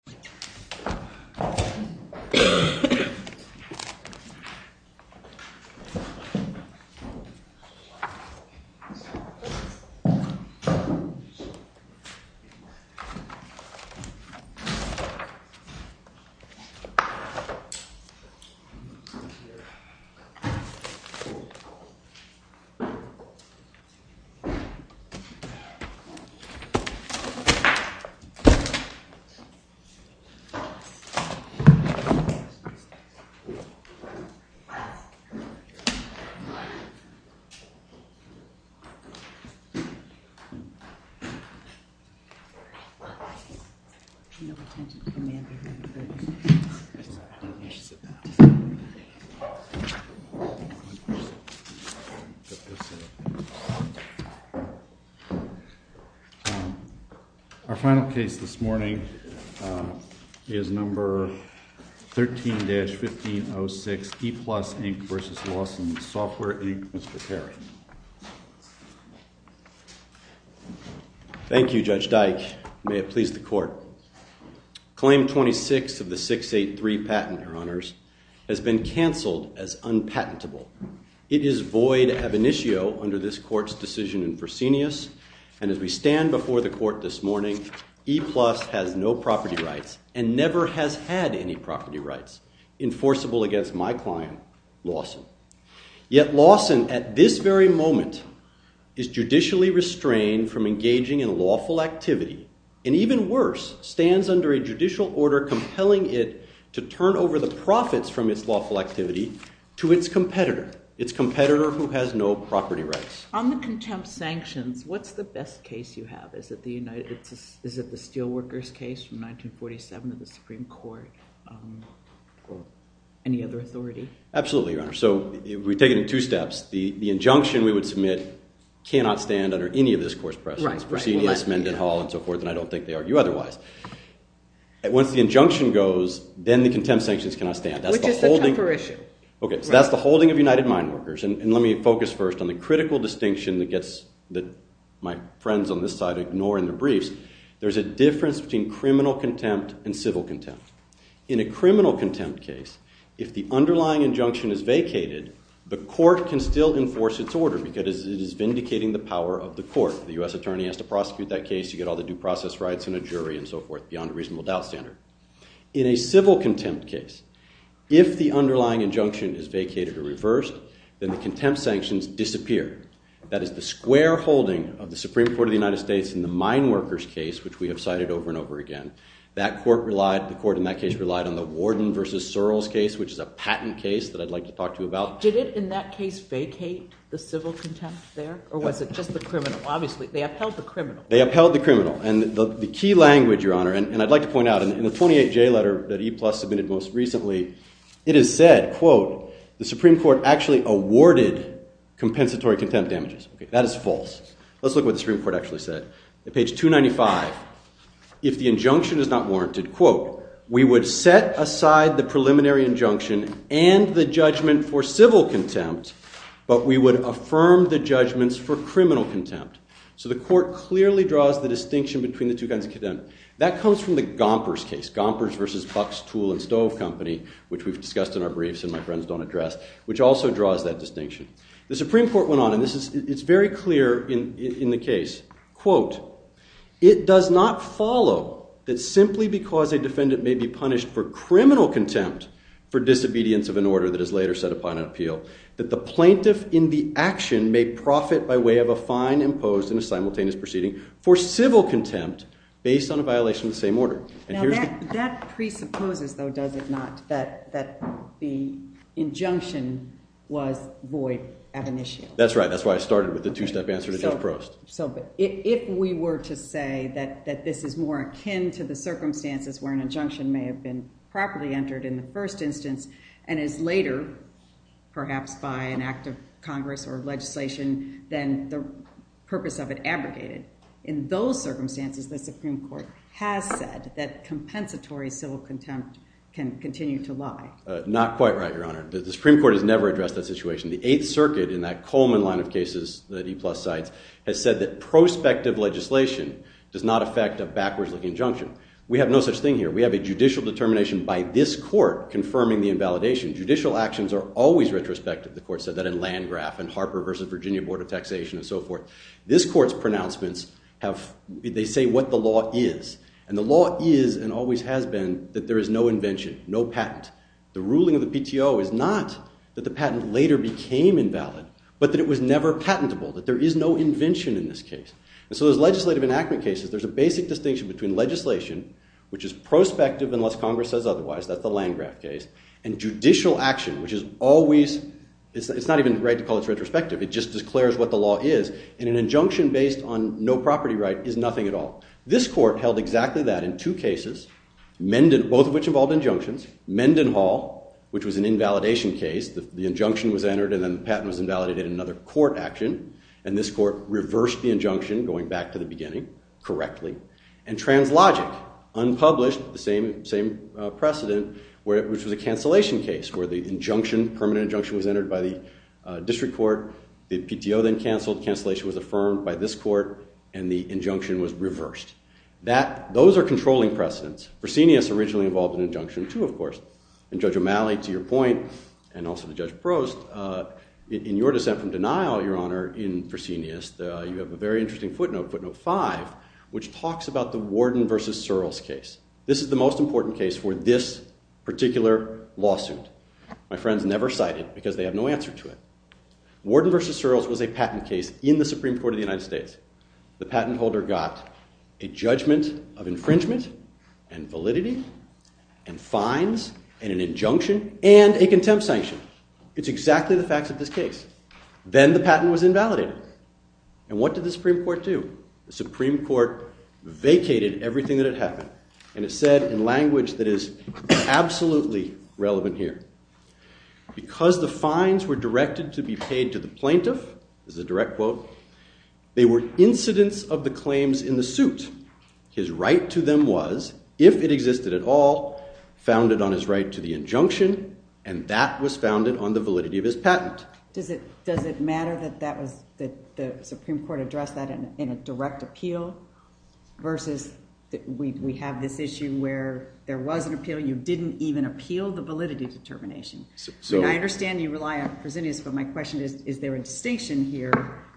v. Lawson Software, Inc. v. Lawson Software, Inc. v. Lawson Software, Inc. v. Lawson Software, Inc. is number 13-1506, ePlus, Inc. v. Lawson Software, Inc., Mr. Perry. Thank you, Judge Dyke. May it please the court. Claim 26 of the 683 patent, Your Honors, has been canceled as unpatentable. It is void ab initio under this court's decision in proscenius, and as we stand before the court this morning, ePlus has no property rights and never has had any property rights enforceable against my client, Lawson. Yet Lawson, at this very moment, is judicially restrained from engaging in lawful activity and, even worse, stands under a judicial order compelling it to turn over the profits from its lawful activity to its competitor, its competitor who has no property rights. On the contempt sanctions, what's the best case you have? Is it the Steelworkers case from 1947 of the Supreme Court or any other authority? Absolutely, Your Honor. So we take it in two steps. The injunction we would submit cannot stand under any of this court's precedence, proscenius, Mendenhall, and so forth, and I don't think they argue otherwise. Once the injunction goes, then the contempt sanctions cannot stand. Which is the temper issue. Okay, so that's the holding of United Mine Workers. And let me focus first on the critical distinction that my friends on this side ignore in their briefs. There's a difference between criminal contempt and civil contempt. In a criminal contempt case, if the underlying injunction is vacated, the court can still enforce its order because it is vindicating the power of the court. The U.S. attorney has to prosecute that case. You get all the due process rights and a jury and so forth beyond a reasonable doubt standard. In a civil contempt case, if the underlying injunction is vacated or reversed, then the contempt sanctions disappear. That is the square holding of the Supreme Court of the United States in the Mine Workers case, which we have cited over and over again. The court in that case relied on the Warden v. Searles case, which is a patent case that I'd like to talk to you about. Did it in that case vacate the civil contempt there, or was it just the criminal? Obviously, they upheld the criminal. They upheld the criminal. And the key language, Your Honor, and I'd like to point out, in the 28J letter that EPLUS submitted most recently, it is said, quote, the Supreme Court actually awarded compensatory contempt damages. That is false. Let's look at what the Supreme Court actually said. At page 295, if the injunction is not warranted, quote, we would set aside the preliminary injunction and the judgment for civil contempt, but we would affirm the judgments for criminal contempt. So the court clearly draws the distinction between the two kinds of contempt. That comes from the Gompers case, Gompers v. Buck's Tool and Stove Company, which we've discussed in our briefs and my friends don't address, which also draws that distinction. The Supreme Court went on, and it's very clear in the case. Quote, it does not follow that simply because a defendant may be punished for criminal contempt for disobedience of an order that is later set upon an appeal that the plaintiff in the action may profit by way of a fine imposed in a simultaneous proceeding for civil contempt based on a violation of the same order. Now, that presupposes, though, does it not, that the injunction was void at an issue? That's right. That's why I started with the two-step answer to Judge Prost. So if we were to say that this is more akin to the circumstances where an injunction may have been properly entered in the first instance and is later, perhaps by an act of Congress or legislation, then the purpose of it abrogated. In those circumstances, the Supreme Court has said that compensatory civil contempt can continue to lie. Not quite right, Your Honor. The Supreme Court has never addressed that situation. The Eighth Circuit in that Coleman line of cases that he plus sides has said that prospective legislation does not affect a backwards-looking injunction. We have no such thing here. We have a judicial determination by this court confirming the invalidation. Judicial actions are always retrospective. The court said that in Landgraf and Harper v. Virginia Board of Taxation and so forth. This court's pronouncements have, they say what the law is, and the law is and always has been that there is no invention, no patent. The ruling of the PTO is not that the patent later became invalid, but that it was never patentable, that there is no invention in this case. And so there's legislative enactment cases. There's a basic distinction between legislation, which is prospective unless Congress says otherwise, that's the Landgraf case, and judicial action, which is always, it's not even right to call it retrospective. It just declares what the law is. And an injunction based on no property right is nothing at all. This court held exactly that in two cases, both of which involved injunctions. Mendenhall, which was an invalidation case, the injunction was entered and then the patent was invalidated in another court action. And this court reversed the injunction going back to the beginning correctly. And Translogic, unpublished, the same precedent, which was a cancellation case where the injunction, permanent injunction, was entered by the district court. The PTO then canceled, cancellation was affirmed by this court, and the injunction was reversed. Those are controlling precedents. Fresenius originally involved an injunction, too, of course. And Judge O'Malley, to your point, and also to Judge Prost, in your dissent from denial, Your Honor, in Fresenius, you have a very interesting footnote, footnote five, which talks about the Warden v. Searles case. This is the most important case for this particular lawsuit. My friends never cite it because they have no answer to it. Warden v. Searles was a patent case in the Supreme Court of the United States. The patent holder got a judgment of infringement and validity and fines and an injunction and a contempt sanction. It's exactly the facts of this case. Then the patent was invalidated. And what did the Supreme Court do? The Supreme Court vacated everything that had happened, and it said in language that is absolutely relevant here, because the fines were directed to be paid to the plaintiff, this is a direct quote, they were incidents of the claims in the suit. His right to them was, if it existed at all, founded on his right to the injunction, and that was founded on the validity of his patent. Does it matter that the Supreme Court addressed that in a direct appeal versus we have this issue where there was an appeal, you didn't even appeal the validity determination? I understand you rely on presidious, but my question is, is there a distinction here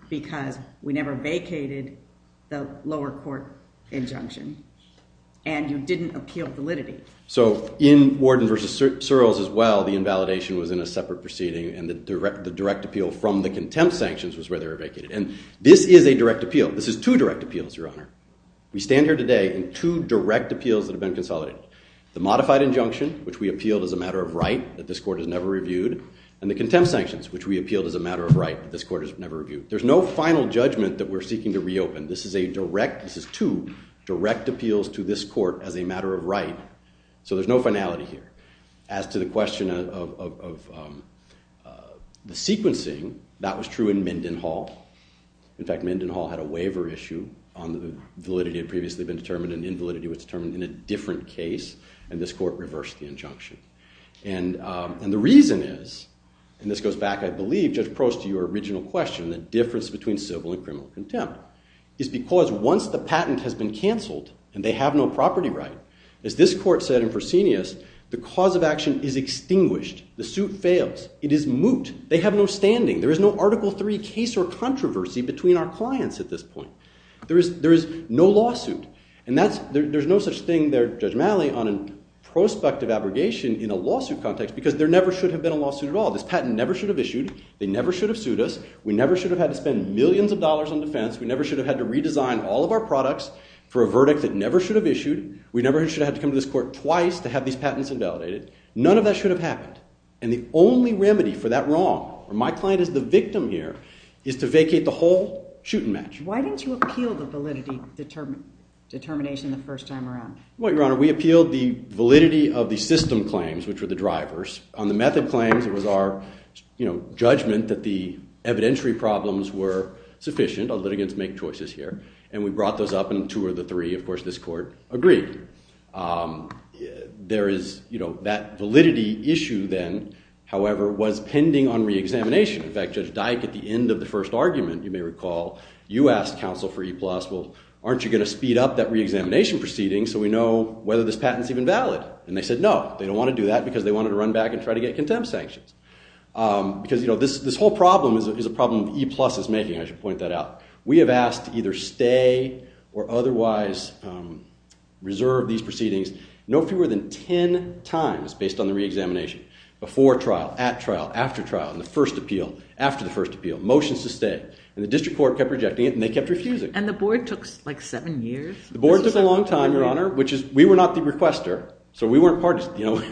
because we never vacated the lower court injunction and you didn't appeal validity? In Warden v. Searles as well, the invalidation was in a separate proceeding and the direct appeal from the contempt sanctions was where they were vacated. And this is a direct appeal. This is two direct appeals, Your Honor. We stand here today in two direct appeals that have been consolidated. The modified injunction, which we appealed as a matter of right, that this court has never reviewed, and the contempt sanctions, which we appealed as a matter of right, that this court has never reviewed. There's no final judgment that we're seeking to reopen. This is two direct appeals to this court as a matter of right, so there's no finality here. As to the question of the sequencing, that was true in Minden Hall. In fact, Minden Hall had a waiver issue on the validity that had previously been determined and invalidity was determined in a different case, and this court reversed the injunction. And the reason is, and this goes back, I believe, Judge Prost, to your original question, the difference between civil and criminal contempt, is because once the patent has been canceled and they have no property right, as this court said in Presenius, the cause of action is extinguished. The suit fails. It is moot. They have no standing. There is no Article III case or controversy between our clients at this point. There is no lawsuit. And there's no such thing there, Judge Malley, on a prospective abrogation in a lawsuit context because there never should have been a lawsuit at all. This patent never should have issued. They never should have sued us. We never should have had to spend millions of dollars on defense. We never should have had to redesign all of our products for a verdict that never should have issued. We never should have had to come to this court twice to have these patents invalidated. None of that should have happened. And the only remedy for that wrong, where my client is the victim here, is to vacate the whole shoot and match. Why didn't you appeal the validity determination the first time around? Well, Your Honor, we appealed the validity of the system claims, which were the drivers. On the method claims, it was our judgment that the evidentiary problems were sufficient. Our litigants make choices here. And we brought those up in two of the three. Of course, this court agreed. There is that validity issue then, however, was pending on re-examination. In fact, Judge Dyke, at the end of the first argument, you may recall, you asked counsel for E-plus, well, aren't you going to speed up that re-examination proceeding so we know whether this patent's even valid? And they said no. They don't want to do that because they wanted to run back and try to get contempt sanctions. Because this whole problem is a problem that E-plus is making. I should point that out. We have asked to either stay or otherwise reserve these proceedings no fewer than 10 times based on the re-examination. Before trial, at trial, after trial, in the first appeal, after the first appeal. Motions to stay. And the district court kept rejecting it. And they kept refusing. And the board took like seven years? The board took a long time, Your Honor. We were not the requester. So we weren't parties.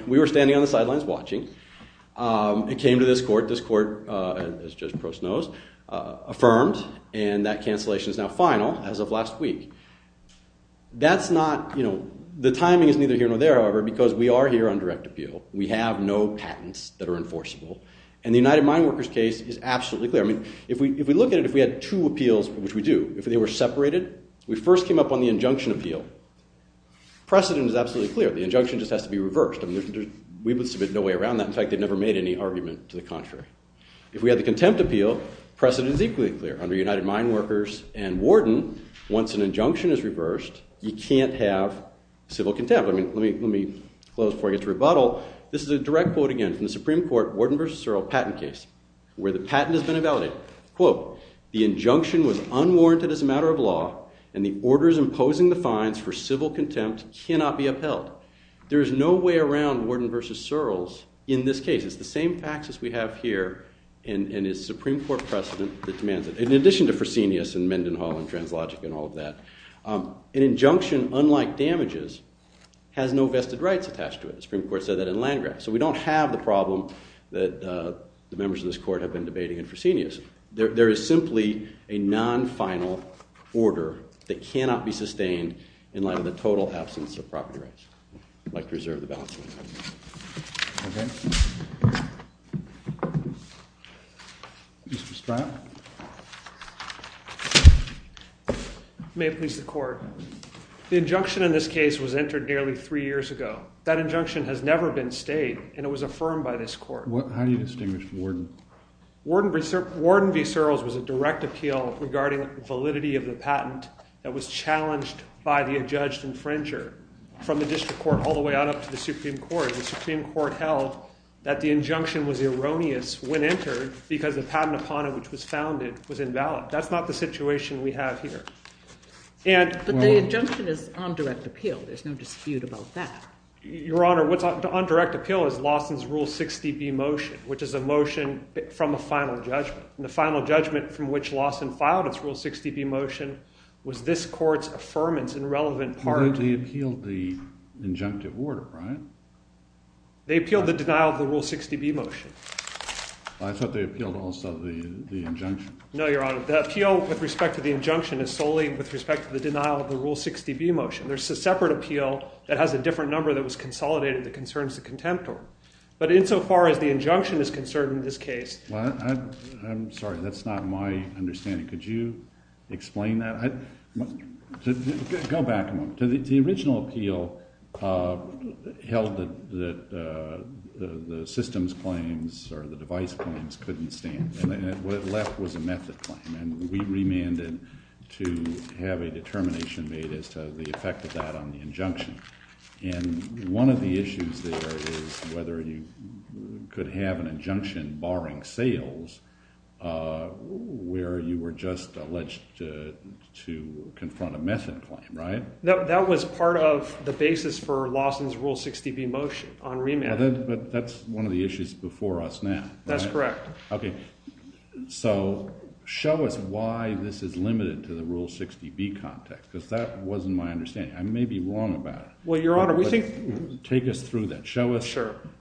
We were standing on the sidelines watching. It came to this court. This court, as Judge Prost knows, affirmed. And that cancellation is now final as of last week. That's not, you know, the timing is neither here nor there, however, because we are here on direct appeal. We have no patents that are enforceable. And the United Mine Workers case is absolutely clear. I mean, if we look at it, if we had two appeals, which we do, if they were separated, we first came up on the injunction appeal. Precedent is absolutely clear. The injunction just has to be reversed. I mean, we would submit no way around that. In fact, they never made any argument to the contrary. If we had the contempt appeal, precedent is equally clear. Under United Mine Workers and Wharton, once an injunction is reversed, you can't have civil contempt. I mean, let me close before I get to rebuttal. This is a direct quote, again, from the Supreme Court Wharton v. Searle patent case, where the patent has been invalidated. Quote, the injunction was unwarranted as a matter of law. And the orders imposing the fines for civil contempt cannot be upheld. There is no way around Wharton v. Searle's in this case. It's the same facts as we have here, and it's Supreme Court precedent that demands it. In addition to Fresenius and Mendenhall and Translogic and all of that, an injunction, unlike damages, has no vested rights attached to it. The Supreme Court said that in Landgraab. So we don't have the problem that the members of this court have been debating in Fresenius. There is simply a non-final order that cannot be sustained in light of the total absence of property rights. I'd like to reserve the balance of my time. OK. Mr. Stratton. May it please the court. The injunction in this case was entered nearly three years ago. That injunction has never been stayed, and it was affirmed by this court. How do you distinguish Wharton? Wharton v. Searle's was a direct appeal regarding the validity of the patent that was challenged by the adjudged infringer from the district court all the way out up to the Supreme Court. The Supreme Court held that the injunction was erroneous when entered because the patent upon it, which was founded, was invalid. That's not the situation we have here. But the injunction is on direct appeal. There's no dispute about that. Your Honor, what's on direct appeal is Lawson's Rule 60B motion, which is a motion from a final judgment. And the final judgment from which Lawson filed its Rule 60B motion was this court's affirmance in relevant part. But they appealed the injunctive order, right? They appealed the denial of the Rule 60B motion. I thought they appealed also the injunction. No, Your Honor. The appeal with respect to the injunction is solely with respect to the denial of the Rule 60B motion. There's a separate appeal that has a different number that was consolidated that concerns the contemptor. But insofar as the injunction is concerned in this case. I'm sorry. That's not my understanding. Could you explain that? Go back a moment. The original appeal held that the systems claims or the device claims couldn't stand. And what it left was a method claim. And we remanded to have a determination made as to the effect of that on the injunction. And one of the issues there is whether you could have an injunction barring sales where you were just alleged to confront a method claim, right? That was part of the basis for Lawson's Rule 60B motion on remand. But that's one of the issues before us now. That's correct. OK. So show us why this is limited to the Rule 60B context. Because that wasn't my understanding. I may be wrong about it. Well, Your Honor, we think. Take us through that. Show us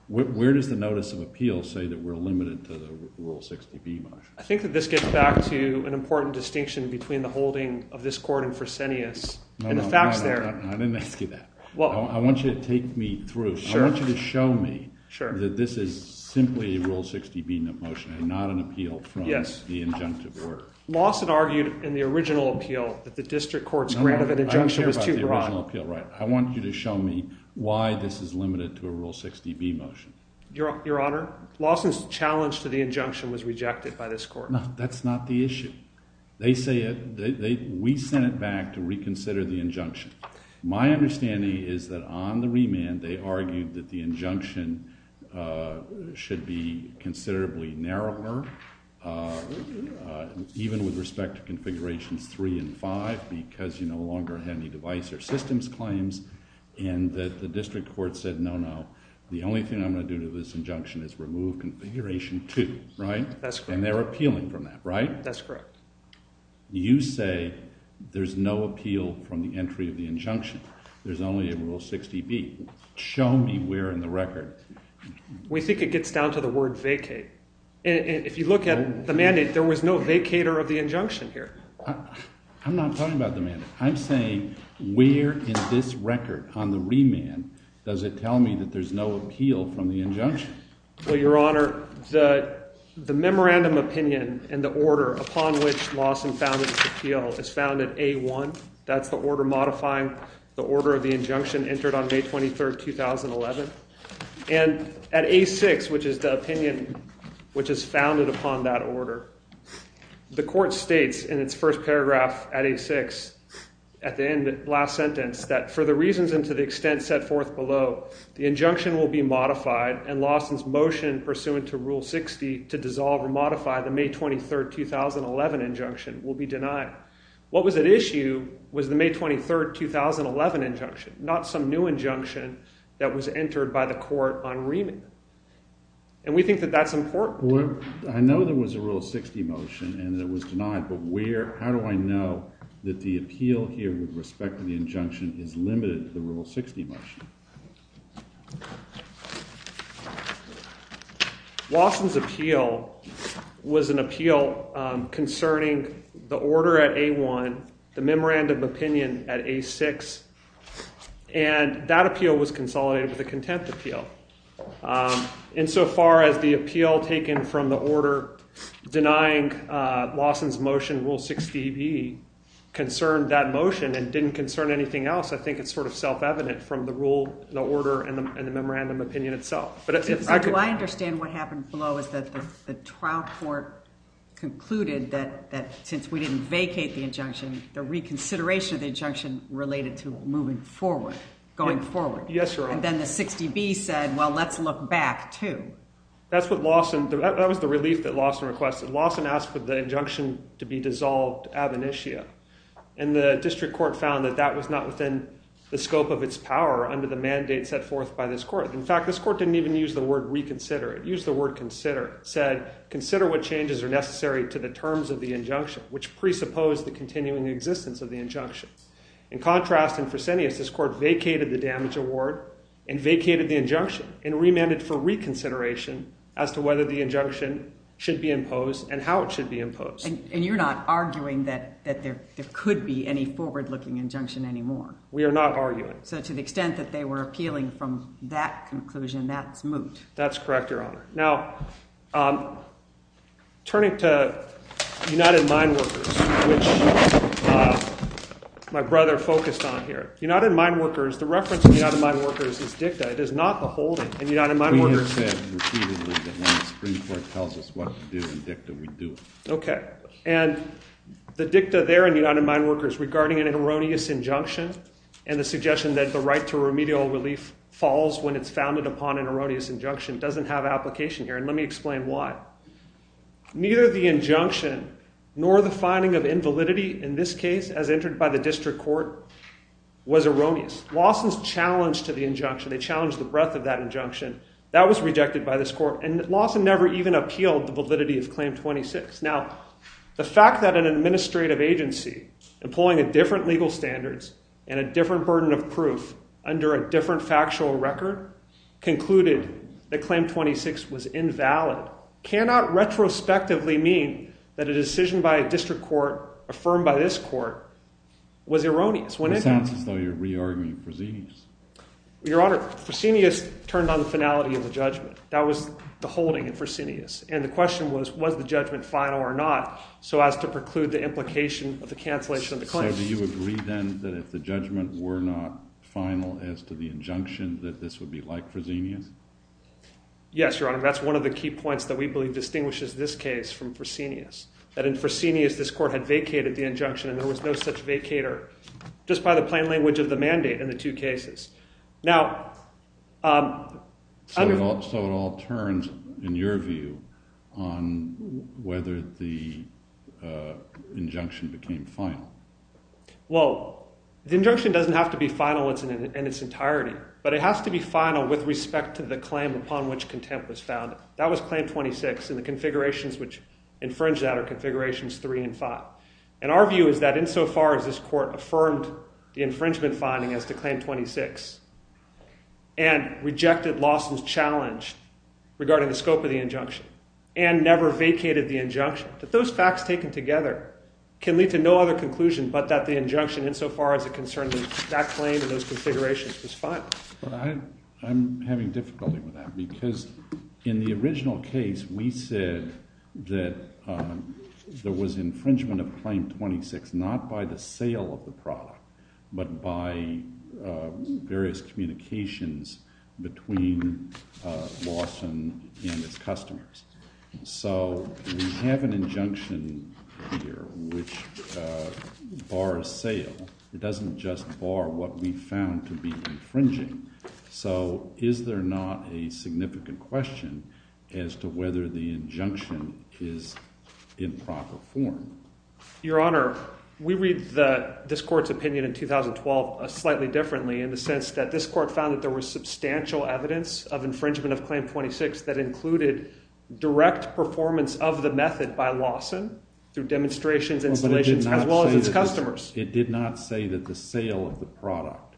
where does the notice of appeal say that we're limited to the Rule 60B motion? I think that this gets back to an important distinction between the holding of this court in Fresenius. No, no. And the facts there. I didn't ask you that. I want you to take me through. I want you to show me that this is simply a Rule 60B motion and not an appeal from the injunctive court. Lawson argued in the original appeal that the district court's grant of an injunction was too broad. I want you to show me why this is limited to a Rule 60B motion. Your Honor, Lawson's challenge to the injunction was rejected by this court. No, that's not the issue. They say it. We sent it back to reconsider the injunction. My understanding is that on the remand, they argued that the injunction should be considerably narrower, even with respect to configurations three and five, because you no longer have any device or systems claims. And that the district court said, no, no. The only thing I'm going to do to this injunction is remove configuration two, right? That's correct. And they're appealing from that, right? That's correct. You say there's no appeal from the entry of the injunction. There's only a Rule 60B. Show me where in the record. We think it gets down to the word vacate. And if you look at the mandate, there was no vacater of the injunction here. I'm not talking about the mandate. I'm saying, where in this record on the remand does it tell me that there's no appeal from the injunction? Well, Your Honor, the memorandum opinion and the order upon which Lawson found its appeal is found in A1. That's the order modifying the order of the injunction entered on May 23, 2011. And at A6, which is the opinion which is founded upon that order, the court states in its first paragraph at A6, at the end, the last sentence, that for the reasons and to the extent set forth below, the injunction will be modified, and Lawson's motion pursuant to Rule 60 to dissolve or modify the May 23, 2011 injunction will be denied. What was at issue was the May 23, 2011 injunction, not some new injunction that was entered by the court on remand. And we think that that's important. I know there was a Rule 60 motion, and it was denied. But how do I know that the appeal here with respect to the injunction is limited to the Rule 60 motion? Lawson's appeal was an appeal concerning the order at A1, the memorandum opinion at A6. And that appeal was consolidated with a contempt appeal. Insofar as the appeal taken from the order denying Lawson's motion, Rule 60b, concerned that motion and didn't concern anything else, I think it's sort of self-evident from the rule, the order, and the memorandum opinion itself. But if I could. Do I understand what happened below is that the trial court concluded that since we didn't vacate the injunction, the reconsideration of the injunction related to moving forward, going forward. Yes, Your Honor. And then the 60b said, well, let's look back, too. That's what Lawson, that was the relief that Lawson requested. Lawson asked for the injunction to be dissolved ab initio. And the district court found that that was not within the scope of its power under the mandate set forth by this court. In fact, this court didn't even use the word reconsider. It used the word consider. It said, consider what changes are necessary to the terms of the injunction, which presupposed the continuing existence of the injunctions. In contrast, in Fresenius, this court vacated the damage award and vacated the injunction and remanded for reconsideration as to whether the injunction should be imposed and how it should be imposed. And you're not arguing that there could be any forward looking injunction anymore? We are not arguing. So to the extent that they were appealing from that conclusion, that's moot. That's correct, Your Honor. Now, turning to United Mine Workers, which my brother focused on here. United Mine Workers, the reference to United Mine Workers is dicta. It is not the holding in United Mine Workers. We have said repeatedly that when the Supreme Court tells us what to do in dicta, we do it. OK. And the dicta there in United Mine Workers, regarding an erroneous injunction and the suggestion that the right to remedial relief falls when it's founded upon an erroneous injunction, doesn't have application here. And let me explain why. Neither the injunction nor the finding of invalidity, in this case, as entered by the district court, was erroneous. Lawsons challenged to the injunction. They challenged the breadth of that injunction. That was rejected by this court. And Lawson never even appealed the validity of Claim 26. Now, the fact that an administrative agency, employing a different legal standards and a different burden of proof under a different factual record, concluded that Claim 26 was invalid, cannot retrospectively mean that a decision by a district court affirmed by this court was erroneous. It sounds as though you're re-arguing proceedings. Your Honor, Fresenius turned on the finality of the judgment. That was the holding in Fresenius. And the question was, was the judgment final or not, so as to preclude the implication of the cancellation of the claim? So do you agree, then, that if the judgment were not final as to the injunction, that this would be like Fresenius? Yes, Your Honor. That's one of the key points that we believe distinguishes this case from Fresenius, that in Fresenius, this court had vacated the injunction and there was no such vacator, just by the plain language of the mandate in the two cases. So it all turns, in your view, on whether the injunction became final. Well, the injunction doesn't have to be final in its entirety, but it has to be final with respect to the claim upon which contempt was found. That was Claim 26, and the configurations which infringe that are Configurations 3 and 5. And our view is that insofar as this court affirmed the infringement finding as to Claim 26 and rejected Lawson's challenge regarding the scope of the injunction and never vacated the injunction, that those facts taken together can lead to no other conclusion but that the injunction, insofar as it concerned that claim and those configurations, was final. I'm having difficulty with that, because in the original case, we said that there was infringement of Claim 26 not by the sale of the product, but by various communications between Lawson and its customers. So we have an injunction here which bars sale. It doesn't just bar what we found to be infringing. So is there not a significant question as to whether the injunction is in proper form? Your Honor, we read this court's opinion in 2012 slightly differently in the sense that this court found that there was substantial evidence of infringement of Claim 26 that included direct performance of the method by Lawson through demonstrations, installations, as well as its customers. It did not say that the sale of the product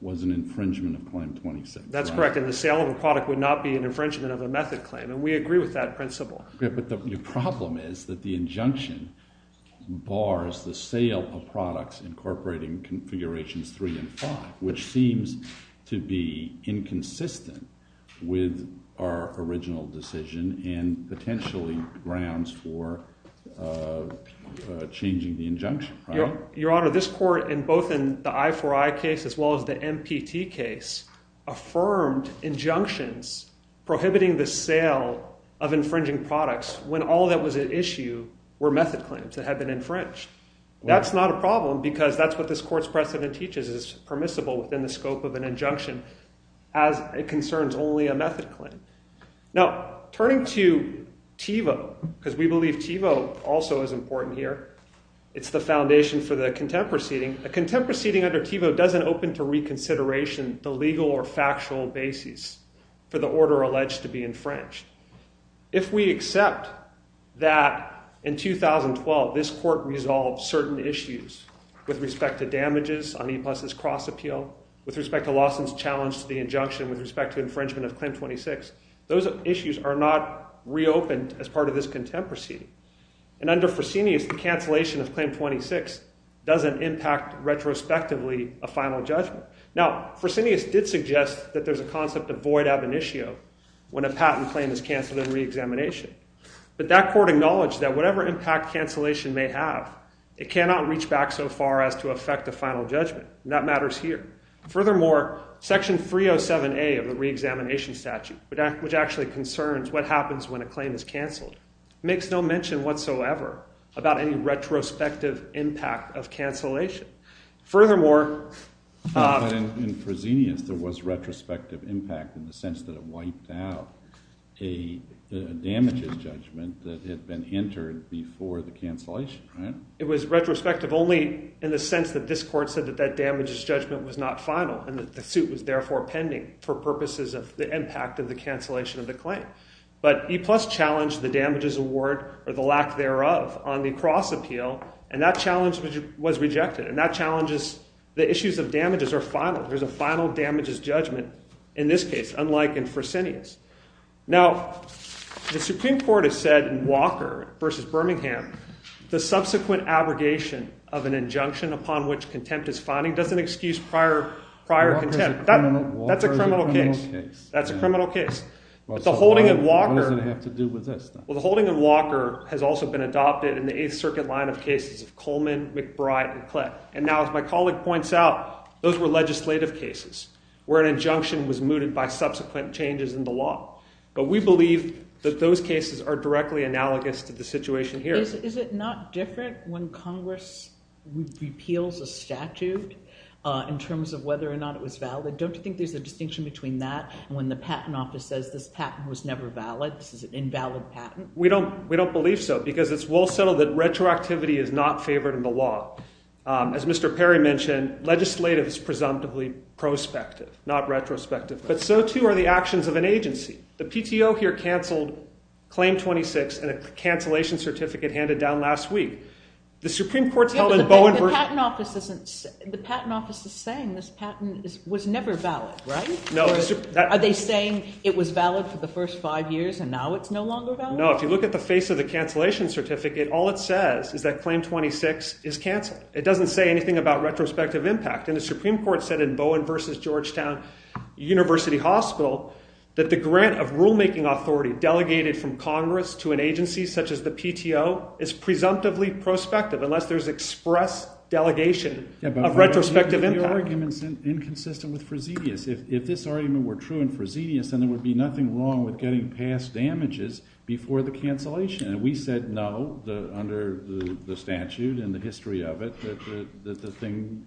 was an infringement of Claim 26. That's correct, and the sale of a product would not be an infringement of a method claim, and we agree with that principle. But the problem is that the injunction bars the sale of products incorporating Configurations 3 and 5, which seems to be inconsistent with our original decision and potentially grounds for changing the injunction. Your Honor, this court, both in the I4I case as well as the MPT case, affirmed injunctions prohibiting the sale of infringing products when all that was at issue were method claims that had been infringed. That's not a problem because that's what this court's precedent teaches is permissible within the scope of an injunction as it concerns only a method claim. Now, turning to TiVo, because we believe TiVo also is important here. It's the foundation for the contempt proceeding. A contempt proceeding under TiVo doesn't open to reconsideration the legal or factual basis for the order alleged to be infringed. If we accept that in 2012 this court resolved certain issues with respect to damages on E-Plus's cross-appeal, with respect to Lawson's challenge to the injunction, with respect to infringement of Claim 26, those issues are not reopened as part of this contempt proceeding. And under Fresenius, the cancellation of Claim 26 doesn't impact retrospectively a final judgment. Now, Fresenius did suggest that there's a concept of void ab initio when a patent claim is cancelled in reexamination. But that court acknowledged that whatever impact cancellation may have, it cannot reach back so far as to affect a final judgment. And that matters here. Furthermore, Section 307A of the reexamination statute, which actually concerns what happens when a claim is cancelled, makes no mention whatsoever about any retrospective impact of cancellation. Furthermore... But in Fresenius, there was retrospective impact in the sense that it wiped out a damages judgment that had been entered before the cancellation, right? It was retrospective only in the sense that this court said that that damages judgment was not final and that the suit was therefore pending for purposes of the impact of the cancellation of the claim. But E-Plus challenged the damages award, or the lack thereof, on the cross-appeal, and that challenge was rejected. And that challenges the issues of damages are final. There's a final damages judgment in this case, unlike in Fresenius. Now, the Supreme Court has said in Walker v. Birmingham the subsequent abrogation of an injunction upon which contempt is finding doesn't excuse prior contempt. Walker is a criminal case. That's a criminal case. What does it have to do with this? Well, the holding of Walker has also been adopted in the 8th Circuit line of cases of Coleman, McBride, and Klett. And now, as my colleague points out, those were legislative cases where an injunction was mooted by subsequent changes in the law. But we believe that those cases are directly analogous to the situation here. Is it not different when Congress repeals a statute in terms of whether or not it was valid? Don't you think there's a distinction between that and when the Patent Office says this patent was never valid, this is an invalid patent? We don't believe so because it's well settled that retroactivity is not favored in the law. As Mr. Perry mentioned, legislative is presumptively prospective, not retrospective. But so too are the actions of an agency. The PTO here canceled Claim 26 and a cancellation certificate handed down last week. The Supreme Court's held in Bowen v. The Patent Office is saying this patent was never valid, right? Are they saying it was valid for the first five years and now it's no longer valid? No, if you look at the face of the cancellation certificate, all it says is that Claim 26 is canceled. It doesn't say anything about retrospective impact. And the Supreme Court said in Bowen v. Georgetown University Hospital that the grant of rulemaking authority delegated from Congress to an agency such as the PTO is presumptively prospective unless there's express delegation of retrospective impact. But the argument's inconsistent with Frazedius. If this argument were true in Frazedius, then there would be nothing wrong with getting past damages before the cancellation. And we said no under the statute and the history of it that the thing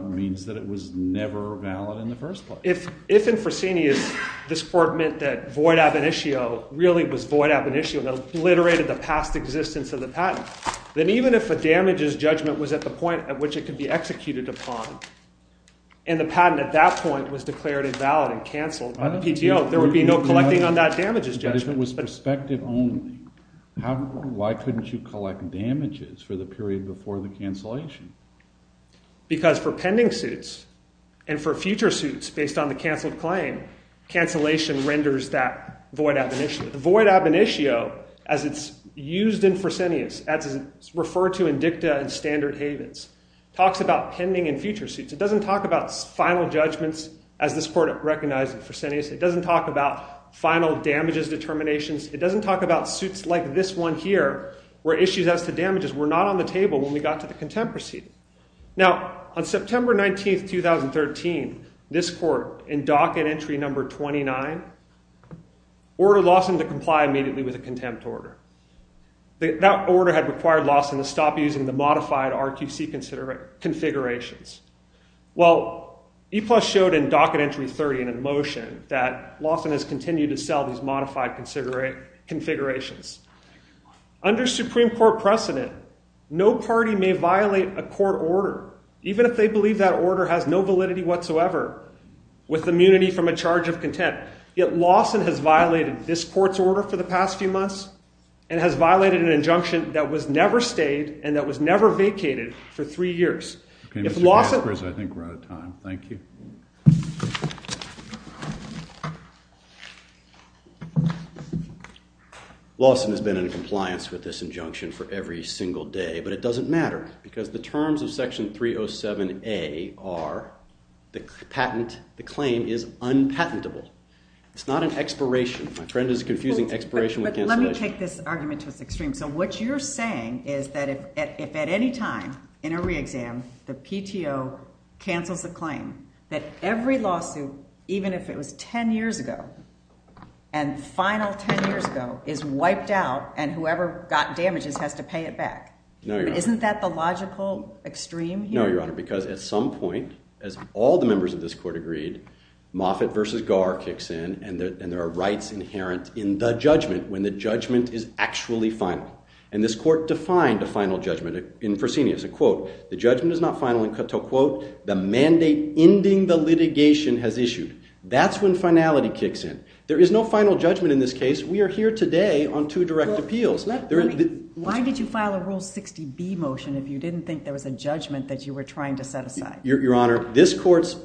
means that it was never valid in the first place. If in Frazedius this Court meant that void ab initio really was void ab initio that obliterated the past existence of the patent, then even if a damages judgment was at the point at which it could be executed upon and the patent at that point was declared invalid and canceled by the PTO, there would be no collecting on that damages judgment. But if it was prospective only, why couldn't you collect damages for the period before the cancellation? Because for pending suits and for future suits based on the canceled claim, cancellation renders that void ab initio. The void ab initio, as it's used in Frazedius, as it's referred to in dicta and standard havens, talks about pending and future suits. It doesn't talk about final judgments as this Court recognized in Frazedius. It doesn't talk about final damages determinations. It doesn't talk about suits like this one here where issues as to damages were not on the table when we got to the contempt proceeding. Now, on September 19, 2013, this Court in docket entry number 29 ordered Lawson to comply immediately with the contempt order. That order had required Lawson to stop using the modified RQC configurations. Well, EPLUS showed in docket entry 30 in a motion that Lawson has continued to sell these modified configurations. Under Supreme Court precedent, no party may violate a court order even if they believe that order has no validity whatsoever with immunity from a charge of contempt. Yet Lawson has violated this Court's order for the past few months and has violated an injunction that was never stayed and that was never vacated for three years. If Lawson... I think we're out of time. Thank you. Lawson has been in compliance with this injunction for every single day, but it doesn't matter because the terms of section 307A are the patent, the claim is unpatentable. It's not an expiration. My friend is confusing expiration with cancellation. But let me take this argument to its extreme. So what you're saying is that if at any time in a re-exam the PTO cancels a claim, that every lawsuit, even if it was 10 years ago, and final 10 years ago, is wiped out and whoever got damages has to pay it back. No, Your Honor. Isn't that the logical extreme here? No, Your Honor, because at some point, as all the members of this Court agreed, Moffitt v. Garr kicks in and there are rights inherent in the judgment when the judgment is actually final. And this Court defined a final judgment in Fresenius. A quote, the judgment is not final until, quote, the mandate ending the litigation has issued. That's when finality kicks in. There is no final judgment in this case. We are here today on two direct appeals. Why did you file a Rule 60B motion if you didn't think there was a judgment that you were trying to set aside? Your Honor, this Court's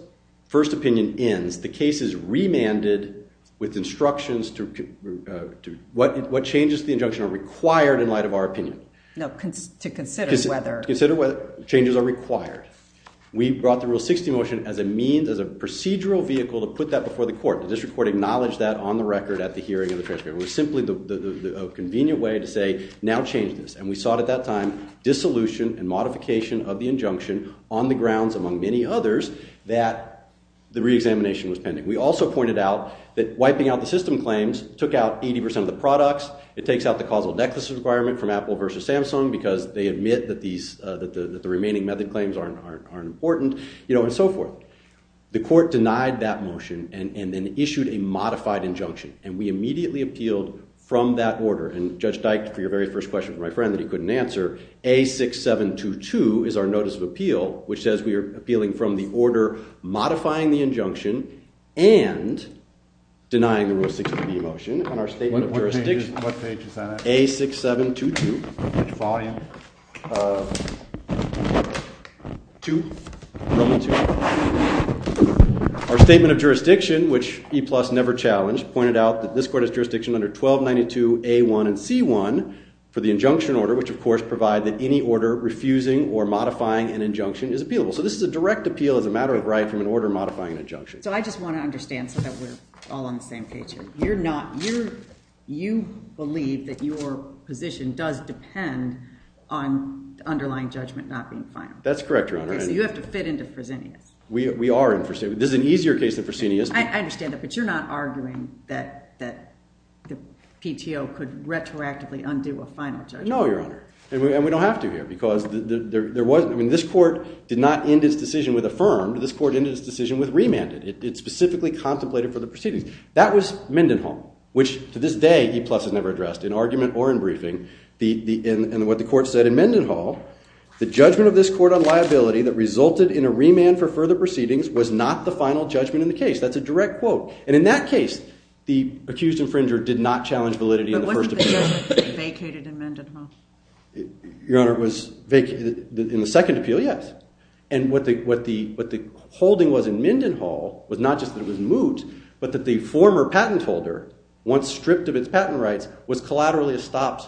first opinion ends. The case is remanded with instructions to what changes to the injunction are required in light of our opinion. No, to consider whether... To consider whether changes are required. We brought the Rule 60 motion as a procedural vehicle to put that before the Court. The District Court acknowledged that on the record at the hearing of the transcript. It was simply a convenient way to say, now change this. And we sought at that time dissolution and modification of the injunction on the grounds, among many others, that the reexamination was pending. We also pointed out that wiping out the system claims took out 80% of the products. It takes out the causal necklace requirement from Apple versus Samsung because they admit that the remaining method claims aren't important. You know, and so forth. The Court denied that motion and then issued a modified injunction. And we immediately appealed from that order. And Judge Dyke, for your very first question from my friend that he couldn't answer, A6722 is our notice of appeal, which says we are appealing from the order modifying the injunction and denying the Rule 60B motion. And our statement of jurisdiction... What page is that at? A6722. Which volume? 2. Our statement of jurisdiction, which EPLUS never challenged, pointed out that this Court has jurisdiction under 1292A1 and C1 for the injunction order, which of course provide that any order refusing or modifying an injunction is appealable. So this is a direct appeal as a matter of right from an order modifying an injunction. So I just want to understand so that we're all on the same page here. You're not... You believe that your position does depend on the underlying judgment not being final. That's correct, Your Honor. So you have to fit into Fresenius. We are in Fresenius. This is an easier case than Fresenius. I understand that, but you're not arguing that the PTO could retroactively undo a final judgment. No, Your Honor. And we don't have to here because there wasn't... I mean, this Court did not end its decision with affirmed. This Court ended its decision with remanded. It specifically contemplated for the proceedings. That was Mendenhall, which to this day EPLUS has never addressed in argument or in briefing. And what the Court said in Mendenhall, the judgment of this Court on liability that resulted in a remand for further proceedings was not the final judgment in the case. That's a direct quote. And in that case, the accused infringer did not challenge validity in the first appeal. The appeal was vacated in Mendenhall. Your Honor, it was vacated in the second appeal, yes. And what the holding was in Mendenhall was not just that it was moot, but that the former patent holder, once stripped of its patent rights, was collaterally stopped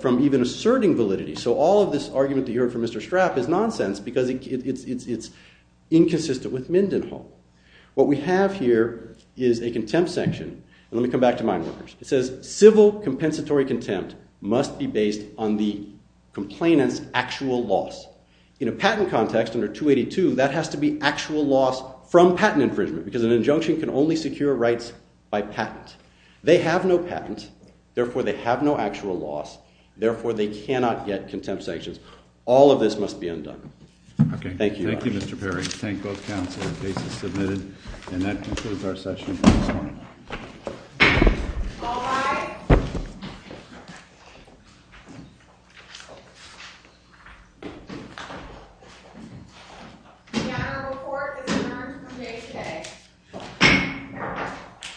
from even asserting validity. So all of this argument that you heard from Mr. Straff is nonsense because it's inconsistent with Mendenhall. What we have here is a contempt section. Let me come back to Mineworkers. It says civil compensatory contempt must be based on the complainant's actual loss. In a patent context, under 282, that has to be actual loss from patent infringement because an injunction can only secure rights by patent. They have no patent. Therefore, they have no actual loss. Therefore, they cannot get contempt sanctions. All of this must be undone. Thank you, Your Honor. Thank you, Mr. Perry. Thank both counsel. The case is submitted. And that concludes our session. All rise. The Honorable Court is adjourned from day today.